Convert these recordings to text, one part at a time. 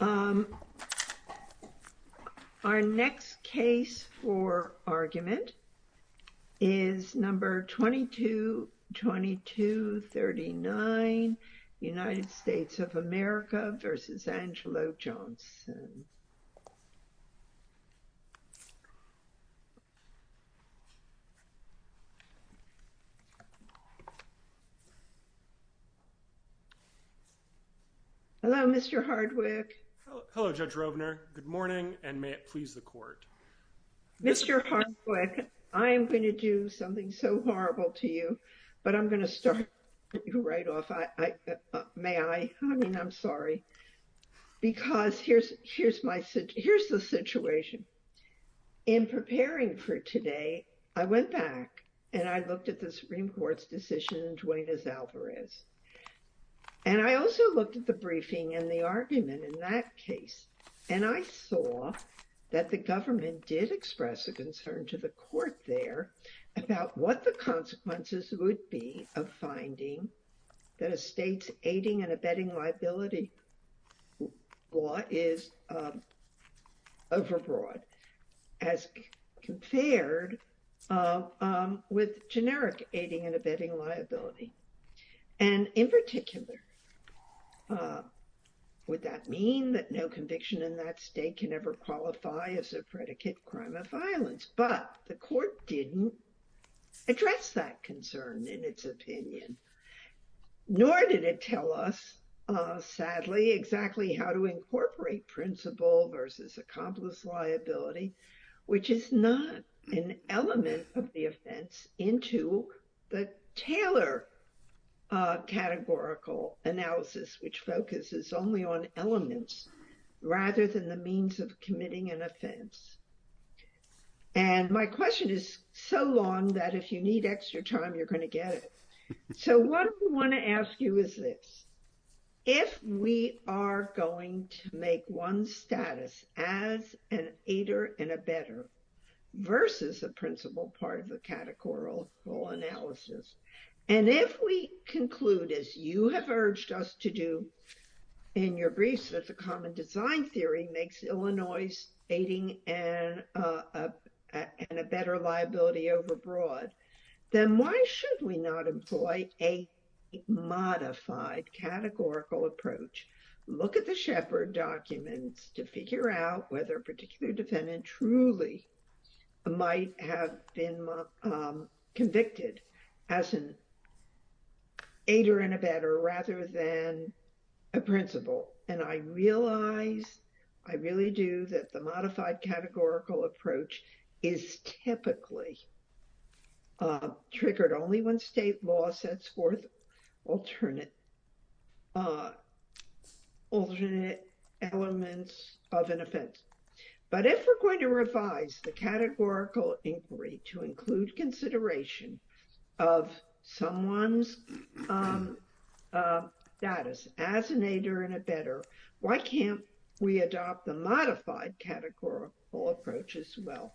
Our next case for argument is number 222239, United States of America v. Angelo Johnson. Hello, Mr. Hardwick. Hello, Judge Robner. Good morning, and may it please the court. Mr. Hardwick, I am going to do something so horrible to you, but I'm going to start right off. May I? I mean, I'm sorry, because here's the situation. In preparing for today, I went back, and I looked at the Supreme Court's decision in Duenas-Alvarez. And I also looked at the briefing and the argument in that case, and I saw that the government did express a concern to the court there about what the consequences would be of finding that a state's aiding and with generic aiding and abetting liability. And in particular, would that mean that no conviction in that state can ever qualify as a predicate crime of violence? But the court didn't address that concern in its opinion, nor did it tell us, sadly, exactly how to incorporate principle versus accomplice liability, which is not an element of the offense, into the Taylor categorical analysis, which focuses only on elements rather than the means of committing an offense. And my question is so long that if you need extra time, you're going to get it. So what I want to ask you is this. If we are going to make one status as an aider and abetter versus a principle part of the categorical analysis, and if we conclude, as you have urged us to do in your briefs, that the common design theory makes Illinois aiding and a better liability overbroad, then why should we not employ a modified categorical approach? Look at the Sheppard documents to figure out whether a particular defendant truly might have been convicted as an aider and abetter rather than a principle. And I realize, I really do, that the modified categorical approach is typically triggered only when state law sets forth alternate elements of an offense. But if we're going to revise the categorical inquiry to adopt the modified categorical approach as well,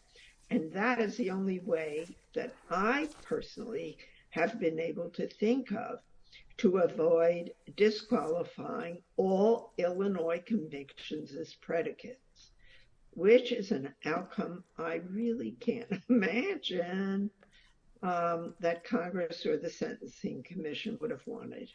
and that is the only way that I personally have been able to think of to avoid disqualifying all Illinois convictions as predicates, which is an outcome I really can't imagine that Congress or the Sentencing Commission would have wanted.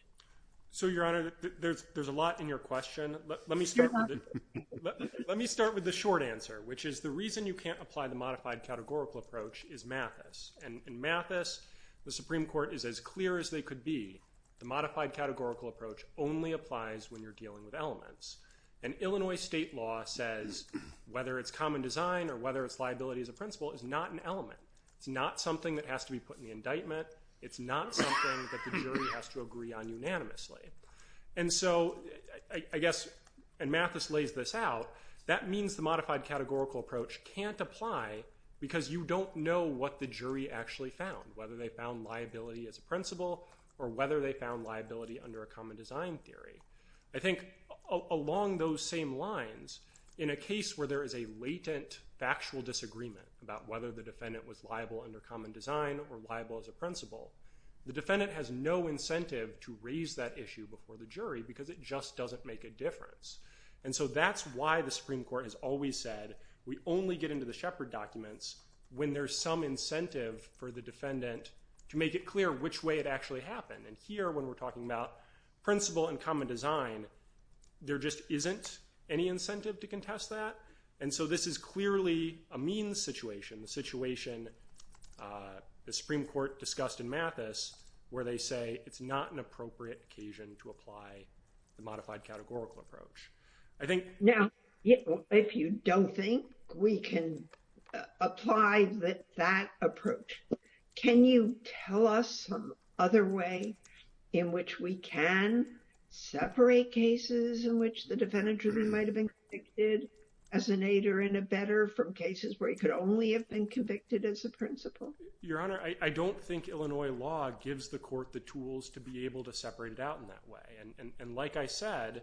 So, Your Honor, there's a lot in your question. Let me start with it. Let me start with the short answer, which is the reason you can't apply the modified categorical approach is Mathis. And in Mathis, the Supreme Court is as clear as they could be. The modified categorical approach only applies when you're dealing with elements. And Illinois state law says whether it's common design or whether it's liability as a principle is not an element. It's not something that has to be put in the indictment. It's not something that the jury has to agree on unanimously. And so, I guess, and Mathis lays this out, that means the modified categorical approach can't apply because you don't know what the jury actually found, whether they found liability as a principle or whether they found liability under a common design theory. I think along those same lines, in a case where there is a latent factual disagreement about whether the defendant was liable under common design or liable as a principle, there's no incentive to raise that issue before the jury because it just doesn't make a difference. And so, that's why the Supreme Court has always said we only get into the Shepard documents when there's some incentive for the defendant to make it clear which way it actually happened. And here, when we're talking about principle and common design, there just isn't any incentive to contest that. And so, this is clearly a means situation, the situation the Supreme Court discussed in Mathis, where they say it's not an appropriate occasion to apply the modified categorical approach. I think... Now, if you don't think we can apply that approach, can you tell us some other way in which we can separate cases in which the defendant jury might have been convicted as an aid or in a better from cases where he could only have been Your Honor, I don't think Illinois law gives the court the tools to be able to separate it out in that way. And like I said,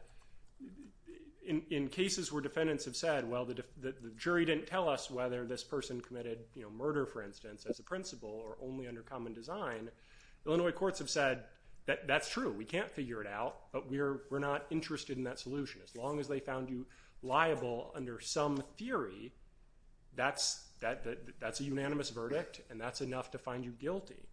in cases where defendants have said, well, the jury didn't tell us whether this person committed murder, for instance, as a principle or only under common design, Illinois courts have said, that's true, we can't figure it out, but we're not interested in that solution. As long as they found you liable under some theory, that's a unanimous verdict, and that's enough to find you guilty.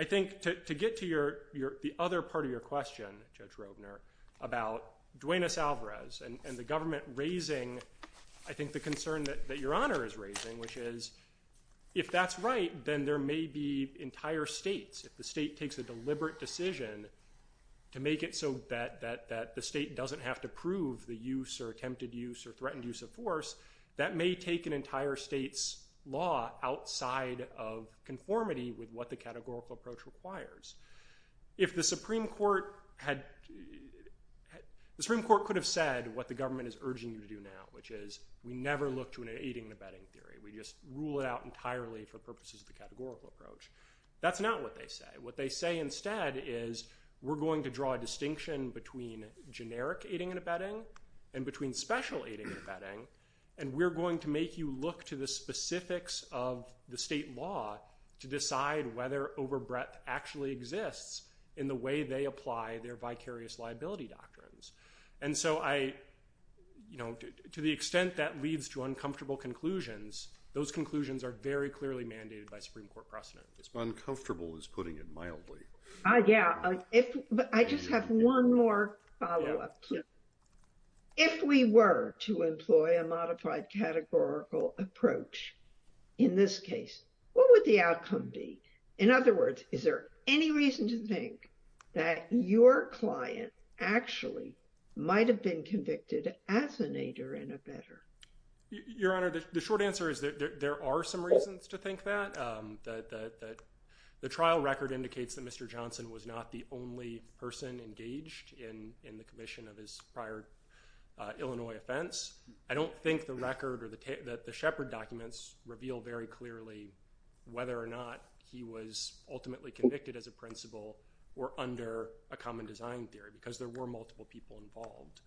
I think to get to the other part of your question, Judge Robner, about Duenas-Alvarez and the government raising, I think, the concern that Your Honor is raising, which is, if that's right, then there may be entire states, if the state doesn't have to prove the use or attempted use or threatened use of force, that may take an entire state's law outside of conformity with what the categorical approach requires. If the Supreme Court had, the Supreme Court could have said what the government is urging you to do now, which is, we never look to an aiding and abetting theory, we just rule it out entirely for purposes of the categorical approach. That's not what they say. What they say instead is, we're going to draw a line between generic aiding and abetting and between special aiding and abetting, and we're going to make you look to the specifics of the state law to decide whether overbreadth actually exists in the way they apply their vicarious liability doctrines. And so I, you know, to the extent that leads to uncomfortable conclusions, those conclusions are very clearly mandated by Supreme Court precedent. Uncomfortable is putting it mildly. Yeah, but I just have one more follow-up. If we were to employ a modified categorical approach in this case, what would the outcome be? In other words, is there any reason to think that your client actually might have been convicted as an aider and abetter? Your Honor, the short answer is that there are some reasons to think that. The trial record indicates that Mr. Johnson was not the only person engaged in the commission of his prior Illinois offense. I don't think the record or the Sheppard documents reveal very clearly whether or not he was ultimately convicted as a principal or under a common design theory, because there were multiple people involved.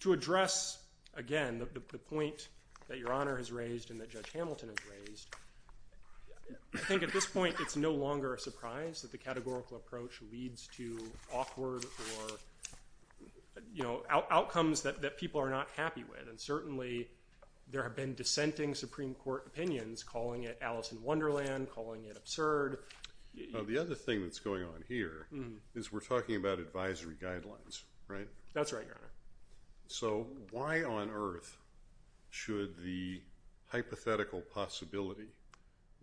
To address, again, the point that Your Honor has raised, I think at this point it's no longer a surprise that the categorical approach leads to awkward or, you know, outcomes that people are not happy with. And certainly, there have been dissenting Supreme Court opinions calling it Alice in Wonderland, calling it absurd. The other thing that's going on here is we're talking about advisory guidelines, right? That's right, Your Honor. So why on earth should the hypothetical possibility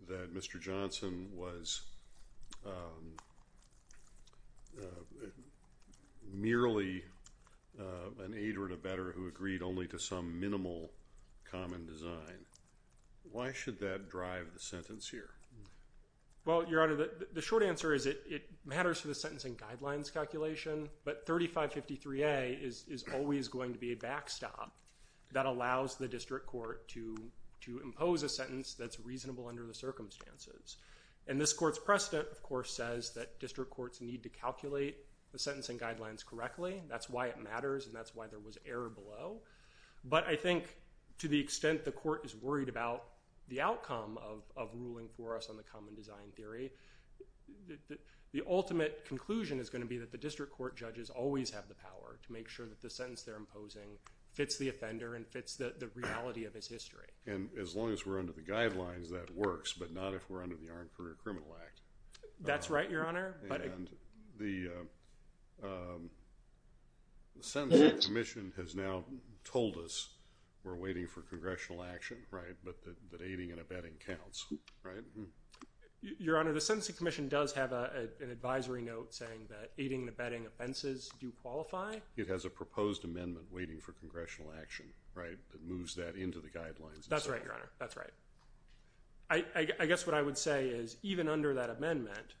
that Mr. Johnson was merely an aider and abetter who agreed only to some minimal common design, why should that drive the sentence here? Well, Your Honor, the short answer is it is always going to be a backstop that allows the district court to impose a sentence that's reasonable under the circumstances. And this court's precedent, of course, says that district courts need to calculate the sentencing guidelines correctly. That's why it matters, and that's why there was error below. But I think to the extent the court is worried about the outcome of ruling for us on the common design theory, the ultimate conclusion is going to be that the district court judges always have the power to make sure that the sentence they're imposing fits the offender and fits the reality of his history. And as long as we're under the guidelines, that works, but not if we're under the Armed Career Criminal Act. That's right, Your Honor. And the Sentencing Commission has now told us we're waiting for congressional action, right, but that aiding and abetting counts, right? Your Honor, the Sentencing Commission does have an amendment that states that aiding and abetting offenses do qualify. It has a proposed amendment waiting for congressional action, right, that moves that into the guidelines. That's right, Your Honor. That's right. I guess what I would say is even under that amendment,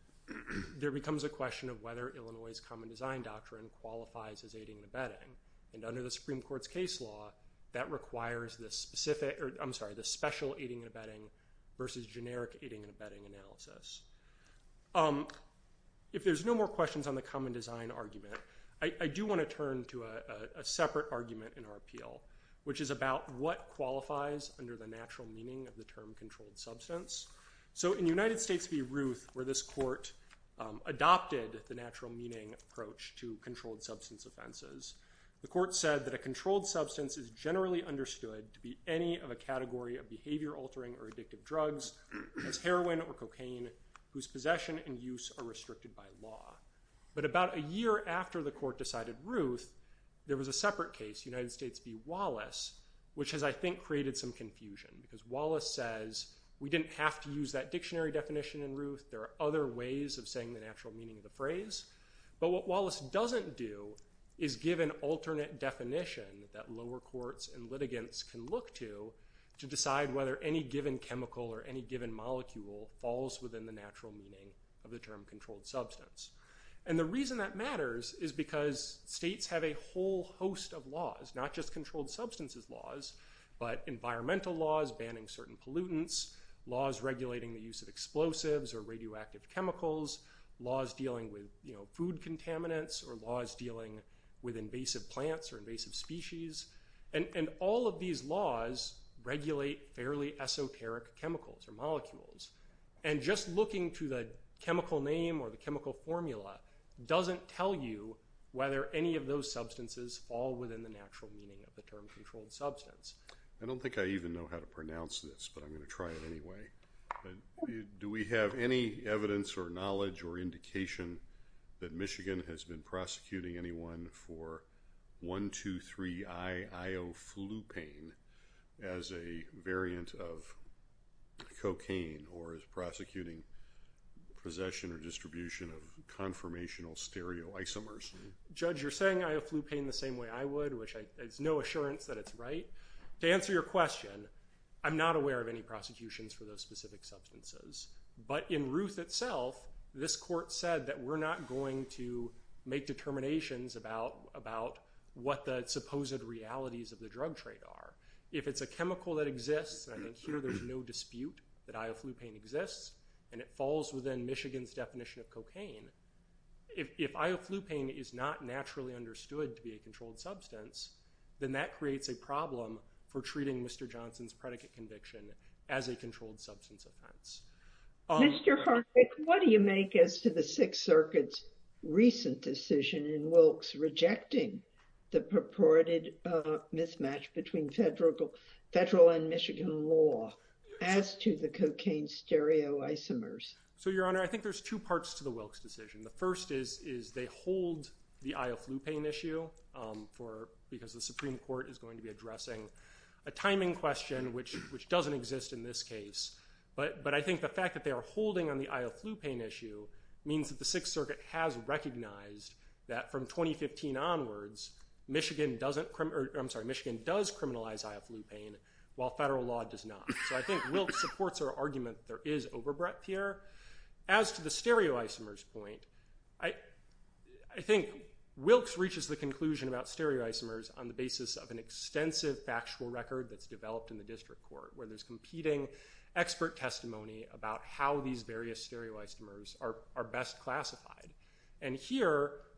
there becomes a question of whether Illinois' common design doctrine qualifies as aiding and abetting. And under the Supreme Court's case law, that requires the specific, or I'm sorry, the special aiding and abetting versus generic aiding and abetting analysis. If there's no more questions on the common design argument, I do want to turn to a separate argument in our appeal, which is about what qualifies under the natural meaning of the term controlled substance. So in United States v. Ruth, where this court adopted the natural meaning approach to controlled substance offenses, the court said that a controlled substance is generally understood to be any of a category of behavior-altering or addictive drugs, as heroin or cocaine, whose possession and use are restricted by law. But about a year after the court decided Ruth, there was a separate case, United States v. Wallace, which has, I think, created some confusion because Wallace says we didn't have to use that dictionary definition in Ruth. There are other ways of saying the natural meaning of the phrase. But what Wallace doesn't do is give an alternate definition that lower courts and litigants can look to to decide whether any given chemical or any given molecule falls within the natural meaning of the term controlled substance. And the reason that matters is because states have a whole host of laws, not just controlled substances laws, but environmental laws banning certain pollutants, laws regulating the use of explosives or radioactive chemicals, laws dealing with food contaminants, or laws dealing with invasive plants or invasive species. And all of these laws regulate fairly esoteric chemicals or molecules. And just looking to the chemical name or the chemical formula doesn't tell you whether any of those substances fall within the natural meaning of the term controlled substance. I don't think I even know how to pronounce this, but I'm going to try it anyway. Do we have any evidence or knowledge or indication that Michigan has been prosecuting anyone for 1, 2, 3, I, Ioflupane as a variant of cocaine or is prosecuting possession or distribution of conformational stereoisomers? Judge, you're saying Ioflupane the same way I would, which there's no assurance that it's right. To answer your question, I'm not aware of any prosecutions for those specific substances. But in Ruth itself, this court said that we're not going to make determinations about what the supposed realities of the drug trade are. If it's a chemical that exists, and I think here there's no dispute that Ioflupane exists, and it falls within Michigan's definition of cocaine, if Ioflupane is not naturally understood to be a controlled substance, then that creates a problem for treating Mr. Johnson's predicate conviction as a controlled decision in Wilkes, rejecting the purported mismatch between federal, federal and Michigan law as to the cocaine stereoisomers. So, your honor, I think there's two parts to the Wilkes decision. The first is, is they hold the Ioflupane issue for, because the Supreme Court is going to be addressing a timing question, which, which doesn't exist in this case. But, but I think the that from 2015 onwards, Michigan doesn't, I'm sorry, Michigan does criminalize Ioflupane, while federal law does not. So I think Wilkes supports our argument that there is overbreath here. As to the stereoisomers point, I, I think Wilkes reaches the conclusion about stereoisomers on the basis of an extensive factual record that's developed in the district court, where there's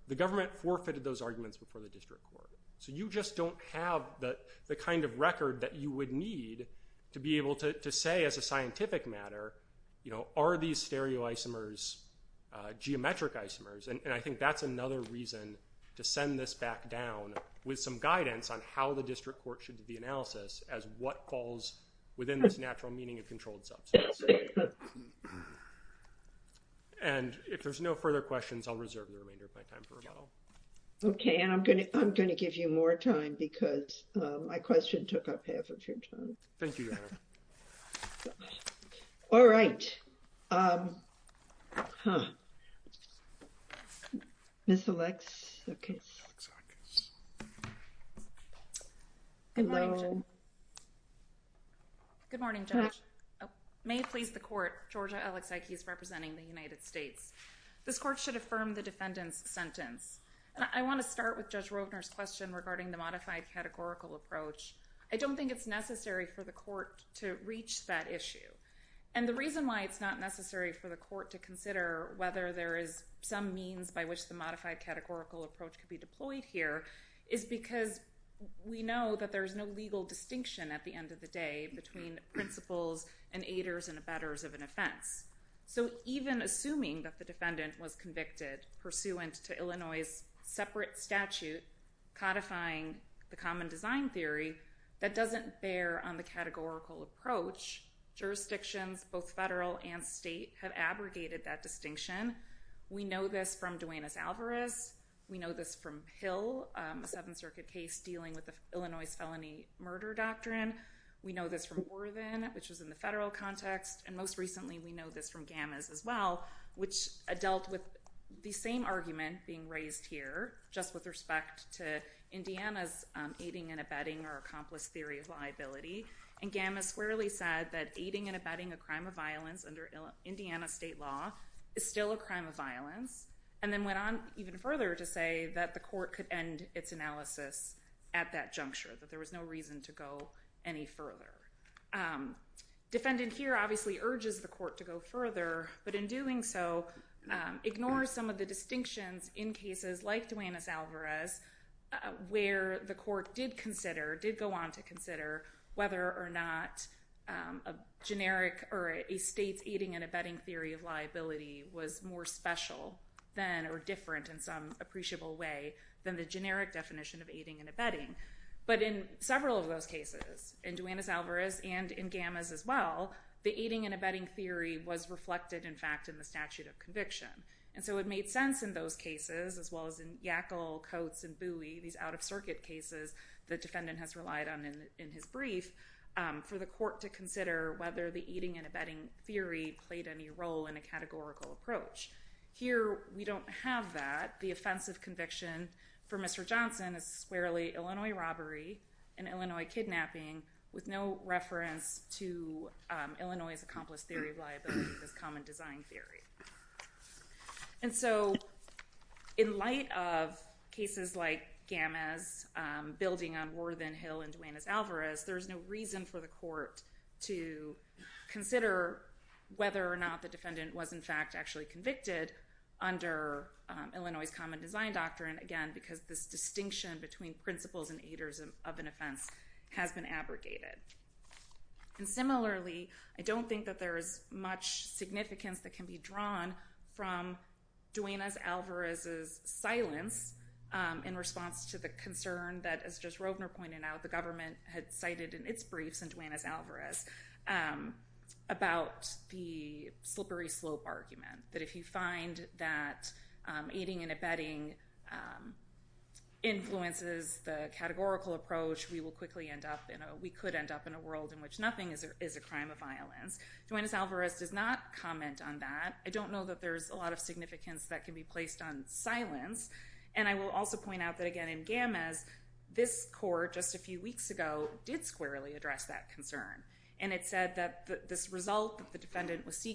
the government forfeited those arguments before the district court. So you just don't have the, the kind of record that you would need to be able to say as a scientific matter, you know, are these stereoisomers, uh, geometric isomers? And I think that's another reason to send this back down with some guidance on how the district court should do the analysis as what falls within this natural meaning of controlled substance. And if there's no further questions, I'll reserve the remainder of my time for rebuttal. Okay. And I'm going to, I'm going to give you more time because my question took up half of your time. Thank you. All right. Um, huh. Miss Alex. Okay. Good morning, Judge. May it please the court, Georgia Alex Ike is representing the United States. This court should affirm the defendant's sentence. I want to start with Judge Rovner's question regarding the modified categorical approach. I don't think it's necessary for the court to reach that issue. And the reason why it's not necessary for the court to consider whether there is some means by which the modified categorical approach could be deployed here is because we know that there's no legal distinction at the end of the day between principles and aiders and abettors of an offense. So even assuming that the defendant was convicted pursuant to Illinois' separate statute codifying the common design theory, that doesn't bear on categorical approach. Jurisdictions, both federal and state have abrogated that distinction. We know this from Duenas-Alvarez. We know this from Hill, a Seventh Circuit case dealing with the Illinois felony murder doctrine. We know this from Orvin, which was in the federal context. And most recently we know this from Gammas as well, which dealt with the same argument being raised here just with respect to Indiana's aiding and abetting or accomplice theory of liability. And Gammas squarely said that aiding and abetting a crime of violence under Indiana state law is still a crime of violence, and then went on even further to say that the court could end its analysis at that juncture, that there was no reason to go any further. Defendant here obviously urges the court to go further, but in doing so ignores some of the distinctions in cases like Duenas-Alvarez where the court did consider, did go on to consider, whether or not a generic or a state's aiding and abetting theory of liability was more special than or different in some appreciable way than the generic definition of aiding and abetting. But in several of those cases, in Duenas-Alvarez and in Gammas as well, the aiding and abetting theory was reflected in fact in the statute of conviction. And so it made sense in those cases, as well as in Yackel, Coates, and Bowie, these out-of-circuit cases the defendant has relied on in his brief, for the court to consider whether the aiding and abetting theory played any role in a categorical approach. Here we don't have that. The offensive conviction for Mr. Johnson is squarely Illinois robbery and Illinois kidnapping with no reference to Illinois' accomplice theory of liability, this common design theory. And so in light of cases like Gammas building on Worthen Hill and Duenas-Alvarez, there's no reason for the court to consider whether or not the defendant was in fact actually convicted under Illinois' common design doctrine. Again, because this distinction between principles and aiders of an offense has been abrogated. And similarly, I don't think that there's much significance that can be drawn from Duenas-Alvarez's silence in response to the concern that, as just Rovner pointed out, the government had cited in its briefs in Duenas-Alvarez about the slippery slope argument. That if you find that aiding and abetting influences the categorical approach, we could end up in a world in which nothing is a crime of violence. Duenas-Alvarez does not comment on that. I don't know that there's a lot of significance that can be placed on silence. And I will also point out that, again, in Gammas, this court just a few weeks ago did squarely address that concern. And it said that this result that the defendant was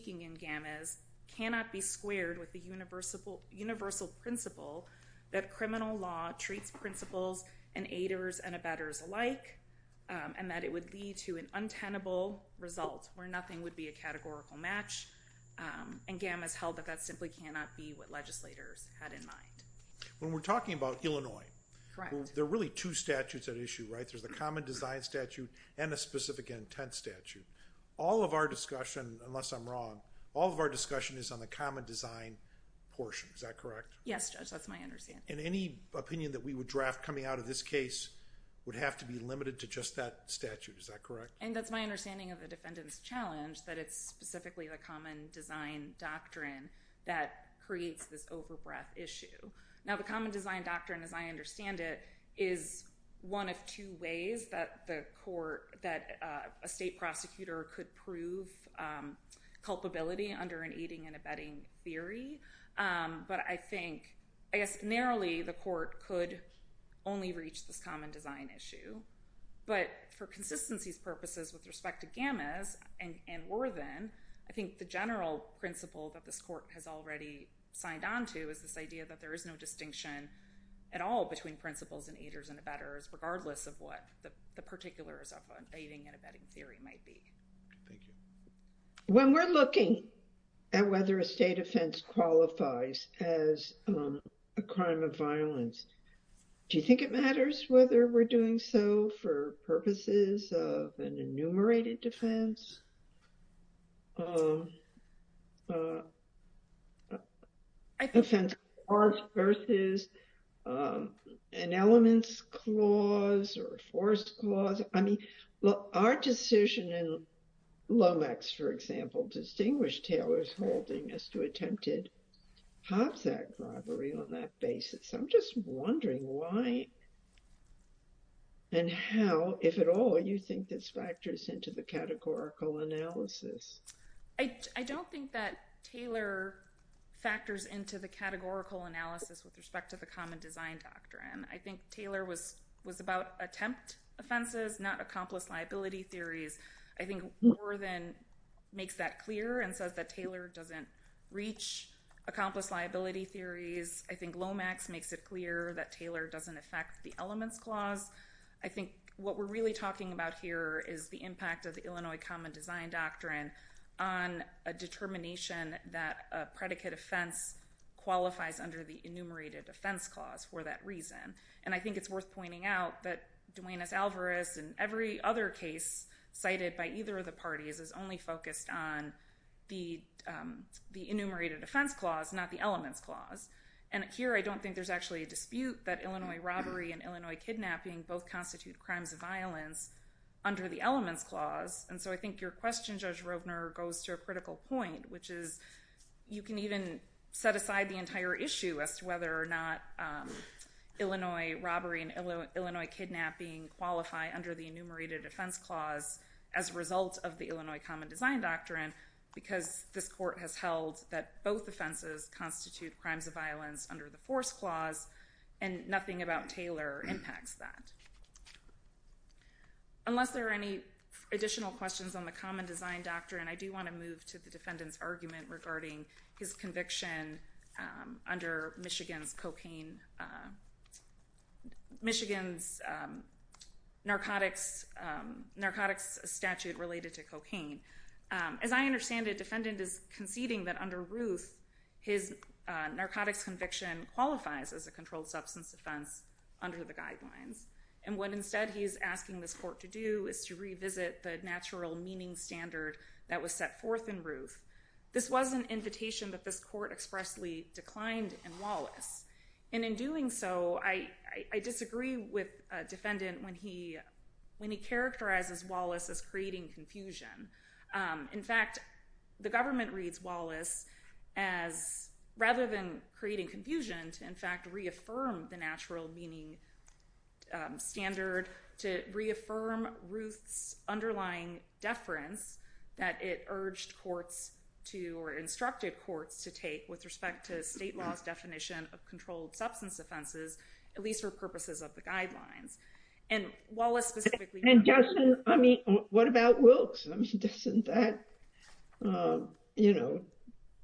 criminal law treats principles and aiders and abetters alike, and that it would lead to an untenable result where nothing would be a categorical match. And Gammas held that that simply cannot be what legislators had in mind. When we're talking about Illinois, there are really two statutes at issue, right? There's the common design statute and a specific intent statute. All of our discussion, unless I'm wrong, all of our discussion is on the common design portion. Is that correct? Yes, Judge. That's my understanding. And any opinion that we would draft coming out of this case would have to be limited to just that statute. Is that correct? And that's my understanding of the defendant's challenge, that it's specifically the common design doctrine that creates this overbreath issue. Now, the common design doctrine, as I understand it, is one of two ways that a state prosecutor could prove culpability under an aiding and abetting theory. But I think, I guess narrowly, the court could only reach this common design issue. But for consistency's purposes with respect to Gammas and Worthen, I think the general principle that this court has already signed on to is this idea that there is no distinction at all between principles and aiders and abetters, regardless of what the particulars of an aiding and abetting theory might be. Thank you. When we're looking at whether a state offense qualifies as a crime of violence, do you think it matters whether we're doing so for purposes of an enumerated defense? I think offense is an elements clause or a forced clause. I mean, our decision in Lomax, for example, distinguished Taylor's holding as to attempted Hobbs Act robbery on that basis. I'm just wondering why and how, if at all, you think this factors into the categorical analysis. I don't think that Taylor factors into the categorical analysis with respect to the common design doctrine. I think Taylor was about attempt offenses, not accomplice liability theories. I think Worthen makes that clear and says that Taylor doesn't reach accomplice liability theories. I think Lomax makes it clear that Taylor doesn't affect the elements clause. I think what we're really talking about here is the impact of the Illinois common design doctrine on a determination that a predicate offense qualifies under the enumerated offense clause for that reason. And I think it's worth pointing out that Duenas-Alvarez and every other case cited by either of the parties is only focused on the enumerated offense clause, not the elements clause. And here I don't think there's actually a dispute that Illinois robbery and Illinois kidnapping both constitute crimes of violence under the elements clause. And so I think your question, Judge Rovner, goes to a critical point, which is you can even set aside the entire issue as to whether or not Illinois robbery and Illinois kidnapping qualify under the enumerated offense clause as a result of the Illinois common design doctrine because this court has held that both offenses constitute crimes of violence under the force clause and nothing about Taylor impacts that. Unless there are any additional questions on the common design doctrine, I do want to move to the defendant's argument regarding his conviction under Michigan's cocaine, Michigan's narcotics narcotics statute related to cocaine. As I understand it, defendant is conceding that under Ruth, his narcotics conviction qualifies as a controlled substance offense under the guidelines. And what instead he's asking this court to do is to revisit the natural meaning standard that was set forth in Ruth. This was an invitation that this court expressly declined in Wallace. And in doing so, I disagree with defendant when he when he characterizes Wallace as creating confusion. In fact, the government reads Wallace as rather than creating confusion to in fact reaffirm the natural meaning standard to reaffirm Ruth's underlying deference that it urged courts to or instructed courts to take with respect to state laws definition of controlled substance offenses, at least for purposes of the guidelines. And Wallace specifically... And Justin, I mean, what about Wilkes? I mean, doesn't that, you know,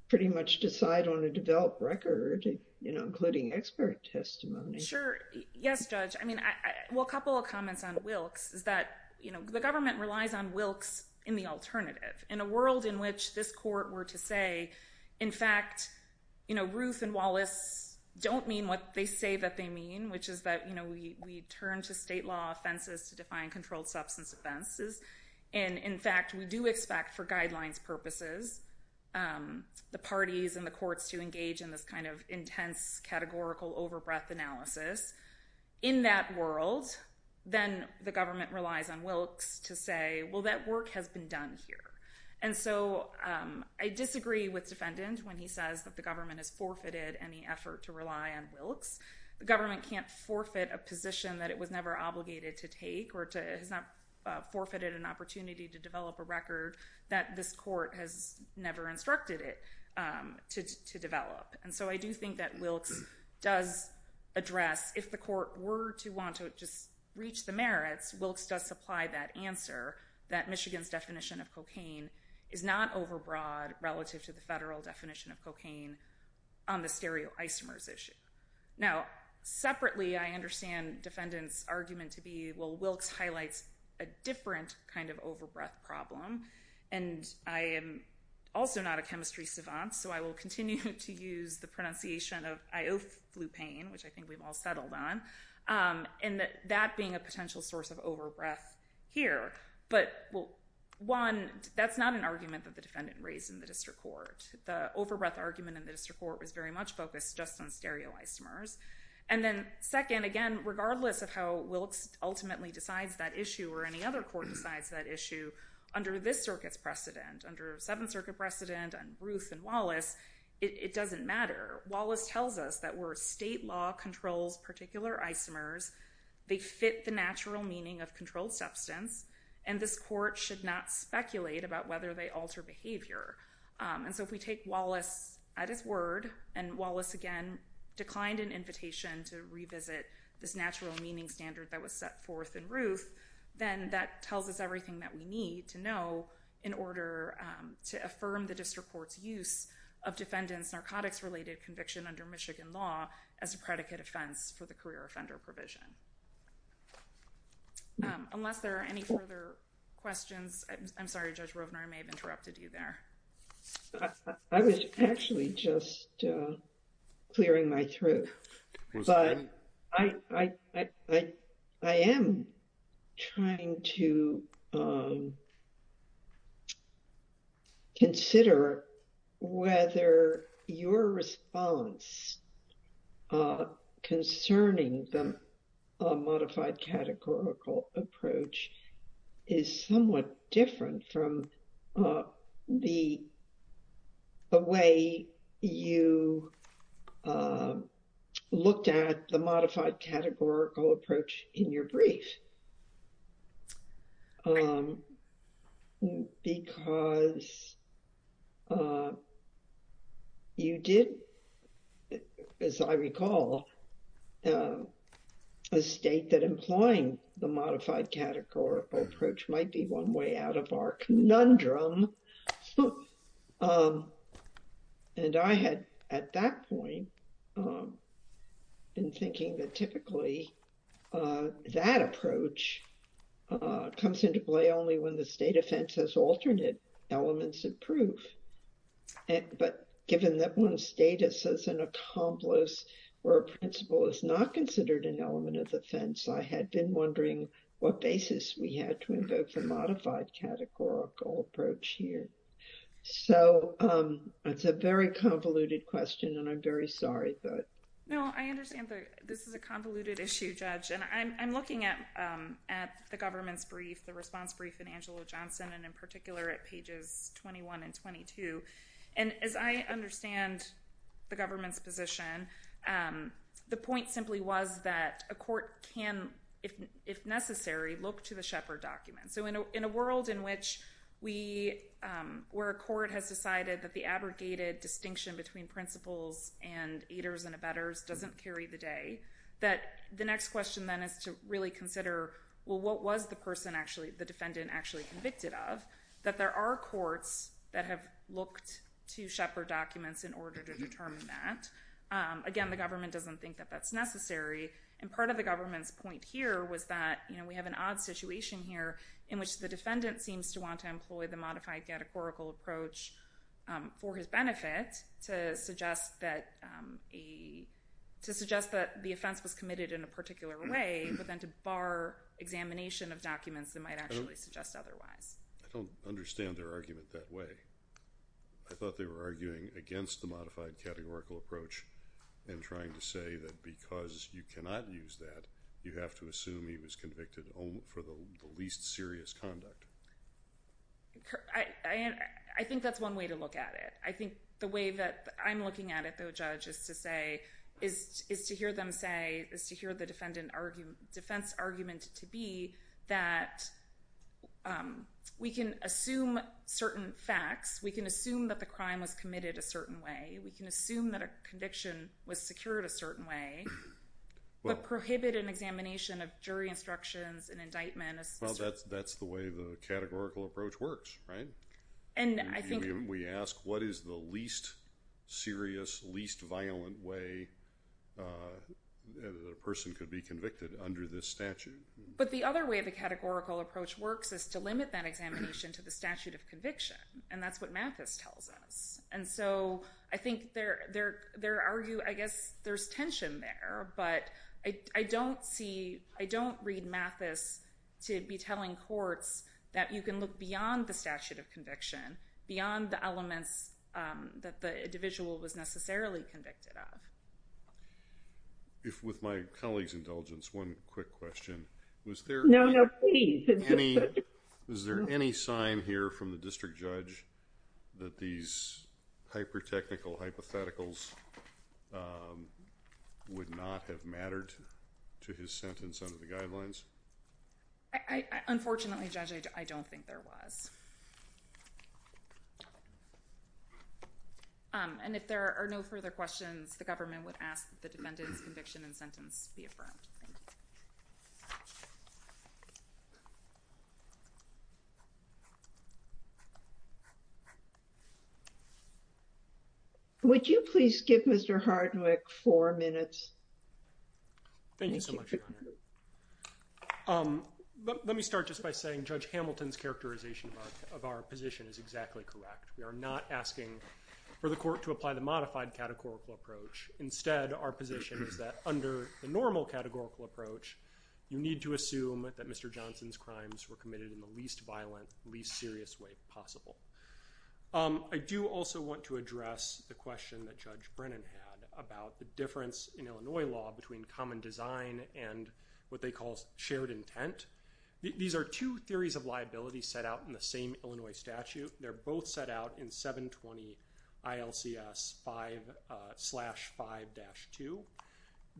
pretty much decide on a developed record, you know, including expert testimony? Sure. Yes, Judge. I mean, well, a couple of comments on Wilkes is that, you know, the government relies on Wilkes in the alternative in a world in which this in fact, you know, Ruth and Wallace don't mean what they say that they mean, which is that, you know, we turn to state law offenses to define controlled substance offenses. And in fact, we do expect for guidelines purposes, the parties and the courts to engage in this kind of intense categorical overbreath analysis. In that world, then the government relies on Wilkes to say, well, that work has been done here. And so I disagree with defendant when he says that the government has forfeited any effort to rely on Wilkes. The government can't forfeit a position that it was never obligated to take or has not forfeited an opportunity to develop a record that this court has never instructed it to develop. And so I do think that Wilkes does that Michigan's definition of cocaine is not overbroad relative to the federal definition of cocaine on the stereoisomers issue. Now, separately, I understand defendant's argument to be, well, Wilkes highlights a different kind of overbreath problem. And I am also not a chemistry savant, so I will continue to use the pronunciation of ioflupane, which I think we've all settled on. And that being a potential source of overbreath here. But one, that's not an argument that the defendant raised in the district court. The overbreath argument in the district court was very much focused just on stereoisomers. And then second, again, regardless of how Wilkes ultimately decides that issue or any other court decides that issue under this circuit's precedent, under Seventh Circuit precedent and Ruth and Wallace, it doesn't matter. Wallace tells us that where state law controls particular isomers, they fit the natural meaning of controlled substance, and this court should not speculate about whether they alter behavior. And so if we take Wallace at his word, and Wallace, again, declined an invitation to revisit this natural meaning standard that was set forth in Ruth, then that tells us everything that we need to know in order to affirm the district court's use of defendant's narcotics-related conviction under Michigan law as a predicate offense for the career offender provision. Unless there are any further questions, I'm sorry, Judge Rovner, I may have interrupted you there. I was actually just clearing my throat, but I am trying to consider whether your response concerning the modified categorical approach is somewhat different from the way you looked at the modified categorical approach in your brief. I think it's a little bit different, because you did, as I recall, a state that implying the modified categorical approach might be one way out of our conundrum. And I had, at that point, been thinking that typically that approach comes into play only when the state offense has alternate elements of proof. But given that one's status as an accomplice or a principal is not considered an element of the offense, I had been wondering what basis we had to invoke the modified categorical approach here. So it's a very convoluted question, and I'm very sorry. No, I understand that this is a convoluted issue, Judge, and I'm looking at the government's brief, the response brief in Angelo Johnson, and in particular at pages 21 and 22. And as I understand the government's position, the point simply was that a court can, if necessary, look to the Shepard document. So in a world where a court has decided that the abrogated distinction between principals and aiders and abettors doesn't carry the day, that the next question then is to really consider, well, what was the person actually, the defendant, actually convicted of? That there are courts that have looked to Shepard documents in order to determine that. Again, the government doesn't think that that's necessary. And part of the government's point here was that we have an odd situation here in which the defendant seems to want to employ the modified categorical approach for his benefit to suggest that the offense was committed in a particular way, but then to bar examination of documents that might actually suggest otherwise. I don't understand their argument that way. I thought they were arguing against the modified categorical approach and trying to say that because you cannot use that, you have to assume he was convicted for the least serious conduct. I think that's one way to look at it. I think the way that I'm looking at it, though, Judge, is to say, is to hear them say, is to hear the defense argument to be that we can assume certain facts. We can assume that the crime was committed a certain way. We can assume that a conviction was secured a certain way, but prohibit an examination of jury instructions and indictment. Well, that's the way the categorical approach works, right? And I think we ask, what is the least serious, least violent way that a person could be convicted under this statute? But the other way the categorical approach works is to limit that examination to the statute of conviction, and that's what Mathis tells us. And so I think they argue, I guess there's tension there, but I don't read Mathis to be telling courts that you can look beyond the statute of conviction, beyond the elements that the one quick question. No, no, please. Is there any sign here from the district judge that these hyper-technical hypotheticals would not have mattered to his sentence under the guidelines? Unfortunately, Judge, I don't think there was. And if there are no further questions, the government would ask the defendant's conviction and sentence be affirmed. Thank you. Would you please give Mr. Hardwick four minutes? Thank you so much, Your Honor. Let me start just by saying Judge Hamilton's characterization of our position is exactly correct. We are not asking for the court to apply the modified categorical approach. Instead, our position is that under the normal categorical approach, you need to assume that Mr. Johnson's crimes were committed in the least violent, least serious way possible. I do also want to address the question that Judge Brennan had about the difference in Illinois law between common design and what they call shared intent. These are two theories of liability set out in the same Illinois statute. They're both set out in 720 ILCS 5-5-2.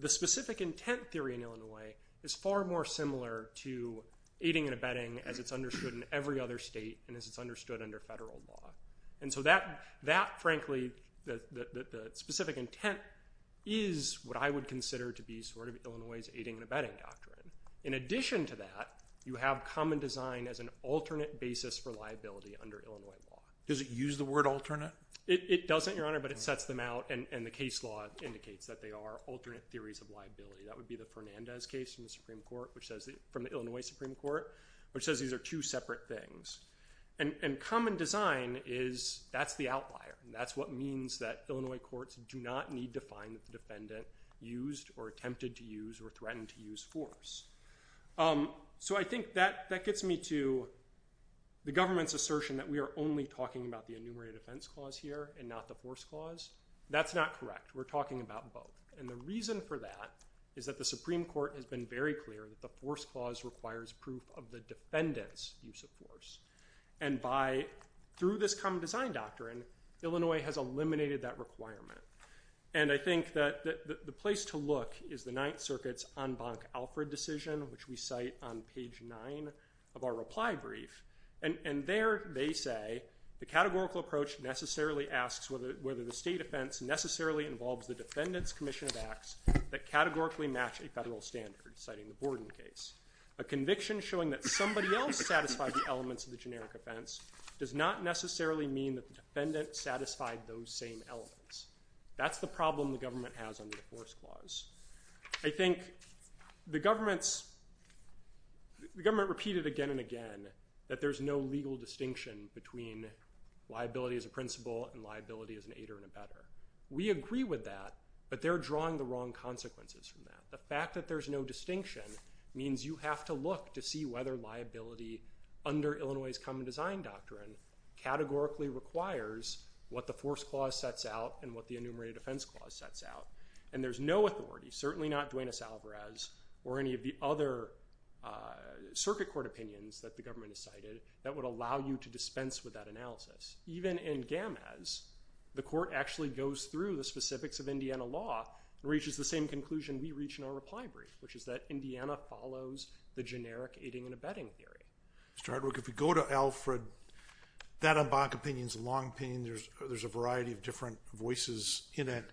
The specific intent theory in Illinois is far more similar to aiding and abetting as it's understood in every other state and as it's understood under federal law. And so that, frankly, the specific intent is what I would consider to be sort of Illinois' aiding and abetting doctrine. In addition to that, you have common design as an alternate basis for liability under Illinois law. Does it use the word alternate? It doesn't, Your Honor, but it sets them out and the case law indicates that they are alternate theories of liability. That would be the Fernandez case from the Illinois Supreme Court, which says these are two separate things. And common design is that's the outlier. That's what means that Illinois courts do not need to find that the defendant used or attempted to use or threatened to use force. So I think that gets me to the government's assertion that we are only talking about the enumerated defense clause here and not the force clause. That's not correct. We're talking about both. And the reason for that is that the Supreme Court has been very clear that the force clause requires proof of the defendant's use of force. And by, through this common design doctrine, Illinois has eliminated that requirement. And I think that the place to look is the Ninth Circuit's en banc Alfred decision, which we cite on page nine of our reply brief. And there they say, the categorical approach necessarily asks whether the state offense necessarily involves the defendant's commission of acts that categorically match a federal standard, citing the Borden case. A conviction showing that somebody else satisfied the elements of the generic offense does not necessarily mean that the defendant satisfied those same elements. That's the government's, the government repeated again and again that there's no legal distinction between liability as a principle and liability as an aider and abetter. We agree with that, but they're drawing the wrong consequences from that. The fact that there's no distinction means you have to look to see whether liability under Illinois' common design doctrine categorically requires what the force clause sets out and what the enumerated defense clause sets out. And there's no authority, certainly not Duenas Alvarez or any of the other circuit court opinions that the government has cited, that would allow you to dispense with that analysis. Even in Gamaz, the court actually goes through the specifics of Indiana law and reaches the same conclusion we reach in our reply brief, which is that Indiana follows the generic aiding and abetting theory. Mr. Hardwick, if we go to Alfred, that en banc opinion is a long opinion. There's a variety of different voices in it,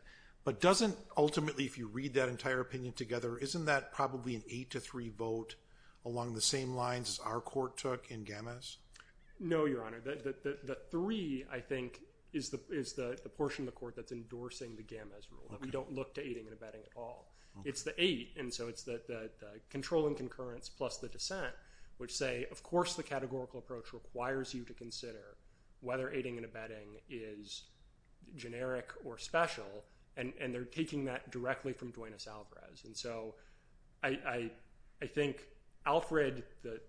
but doesn't ultimately, if you read that entire opinion together, isn't that probably an eight to three vote along the same lines as our court took in Gamaz? No, Your Honor. The three, I think, is the portion of the court that's endorsing the Gamaz rule. We don't look to aiding and abetting at all. It's the eight, and so it's the control and concurrence plus the dissent, which say, of course, the categorical approach requires you to consider whether aiding and abetting is generic or special, and they're taking that directly from Duenas-Alvarez. I think Alfred, the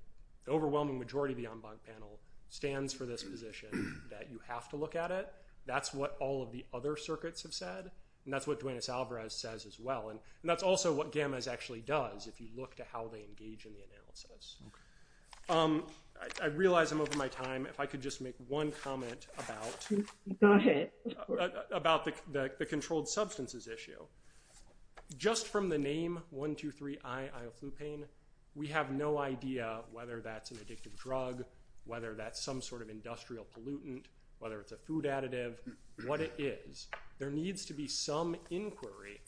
overwhelming majority of the en banc panel, stands for this position that you have to look at it. That's what all of the other circuits have said, and that's what Duenas-Alvarez says as well, and that's also what Gamaz actually does if you look to how they engage in the analysis. I realize I'm over my time. If I could just make one comment about the controlled substances issue. Just from the name 1, 2, 3, I, Ioflupane, we have no idea whether that's an addictive drug, whether that's some sort of industrial pollutant, whether it's a food additive, what it is. There needs to be some inquiry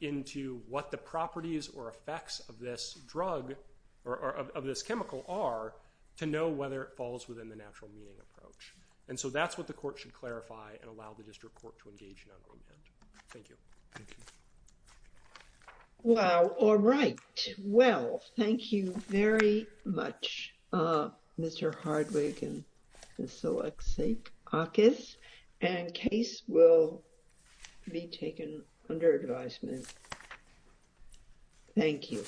into what the properties or effects of this drug or of this chemical are to know whether it falls within the natural meaning approach, and so that's what the court should clarify and allow the district court to engage in on ground. Thank you. Thank you. Well, all right. Well, thank you very much, Mr. Hardwick and Ms. Solexiakis, and case will be taken under advisement. Thank you.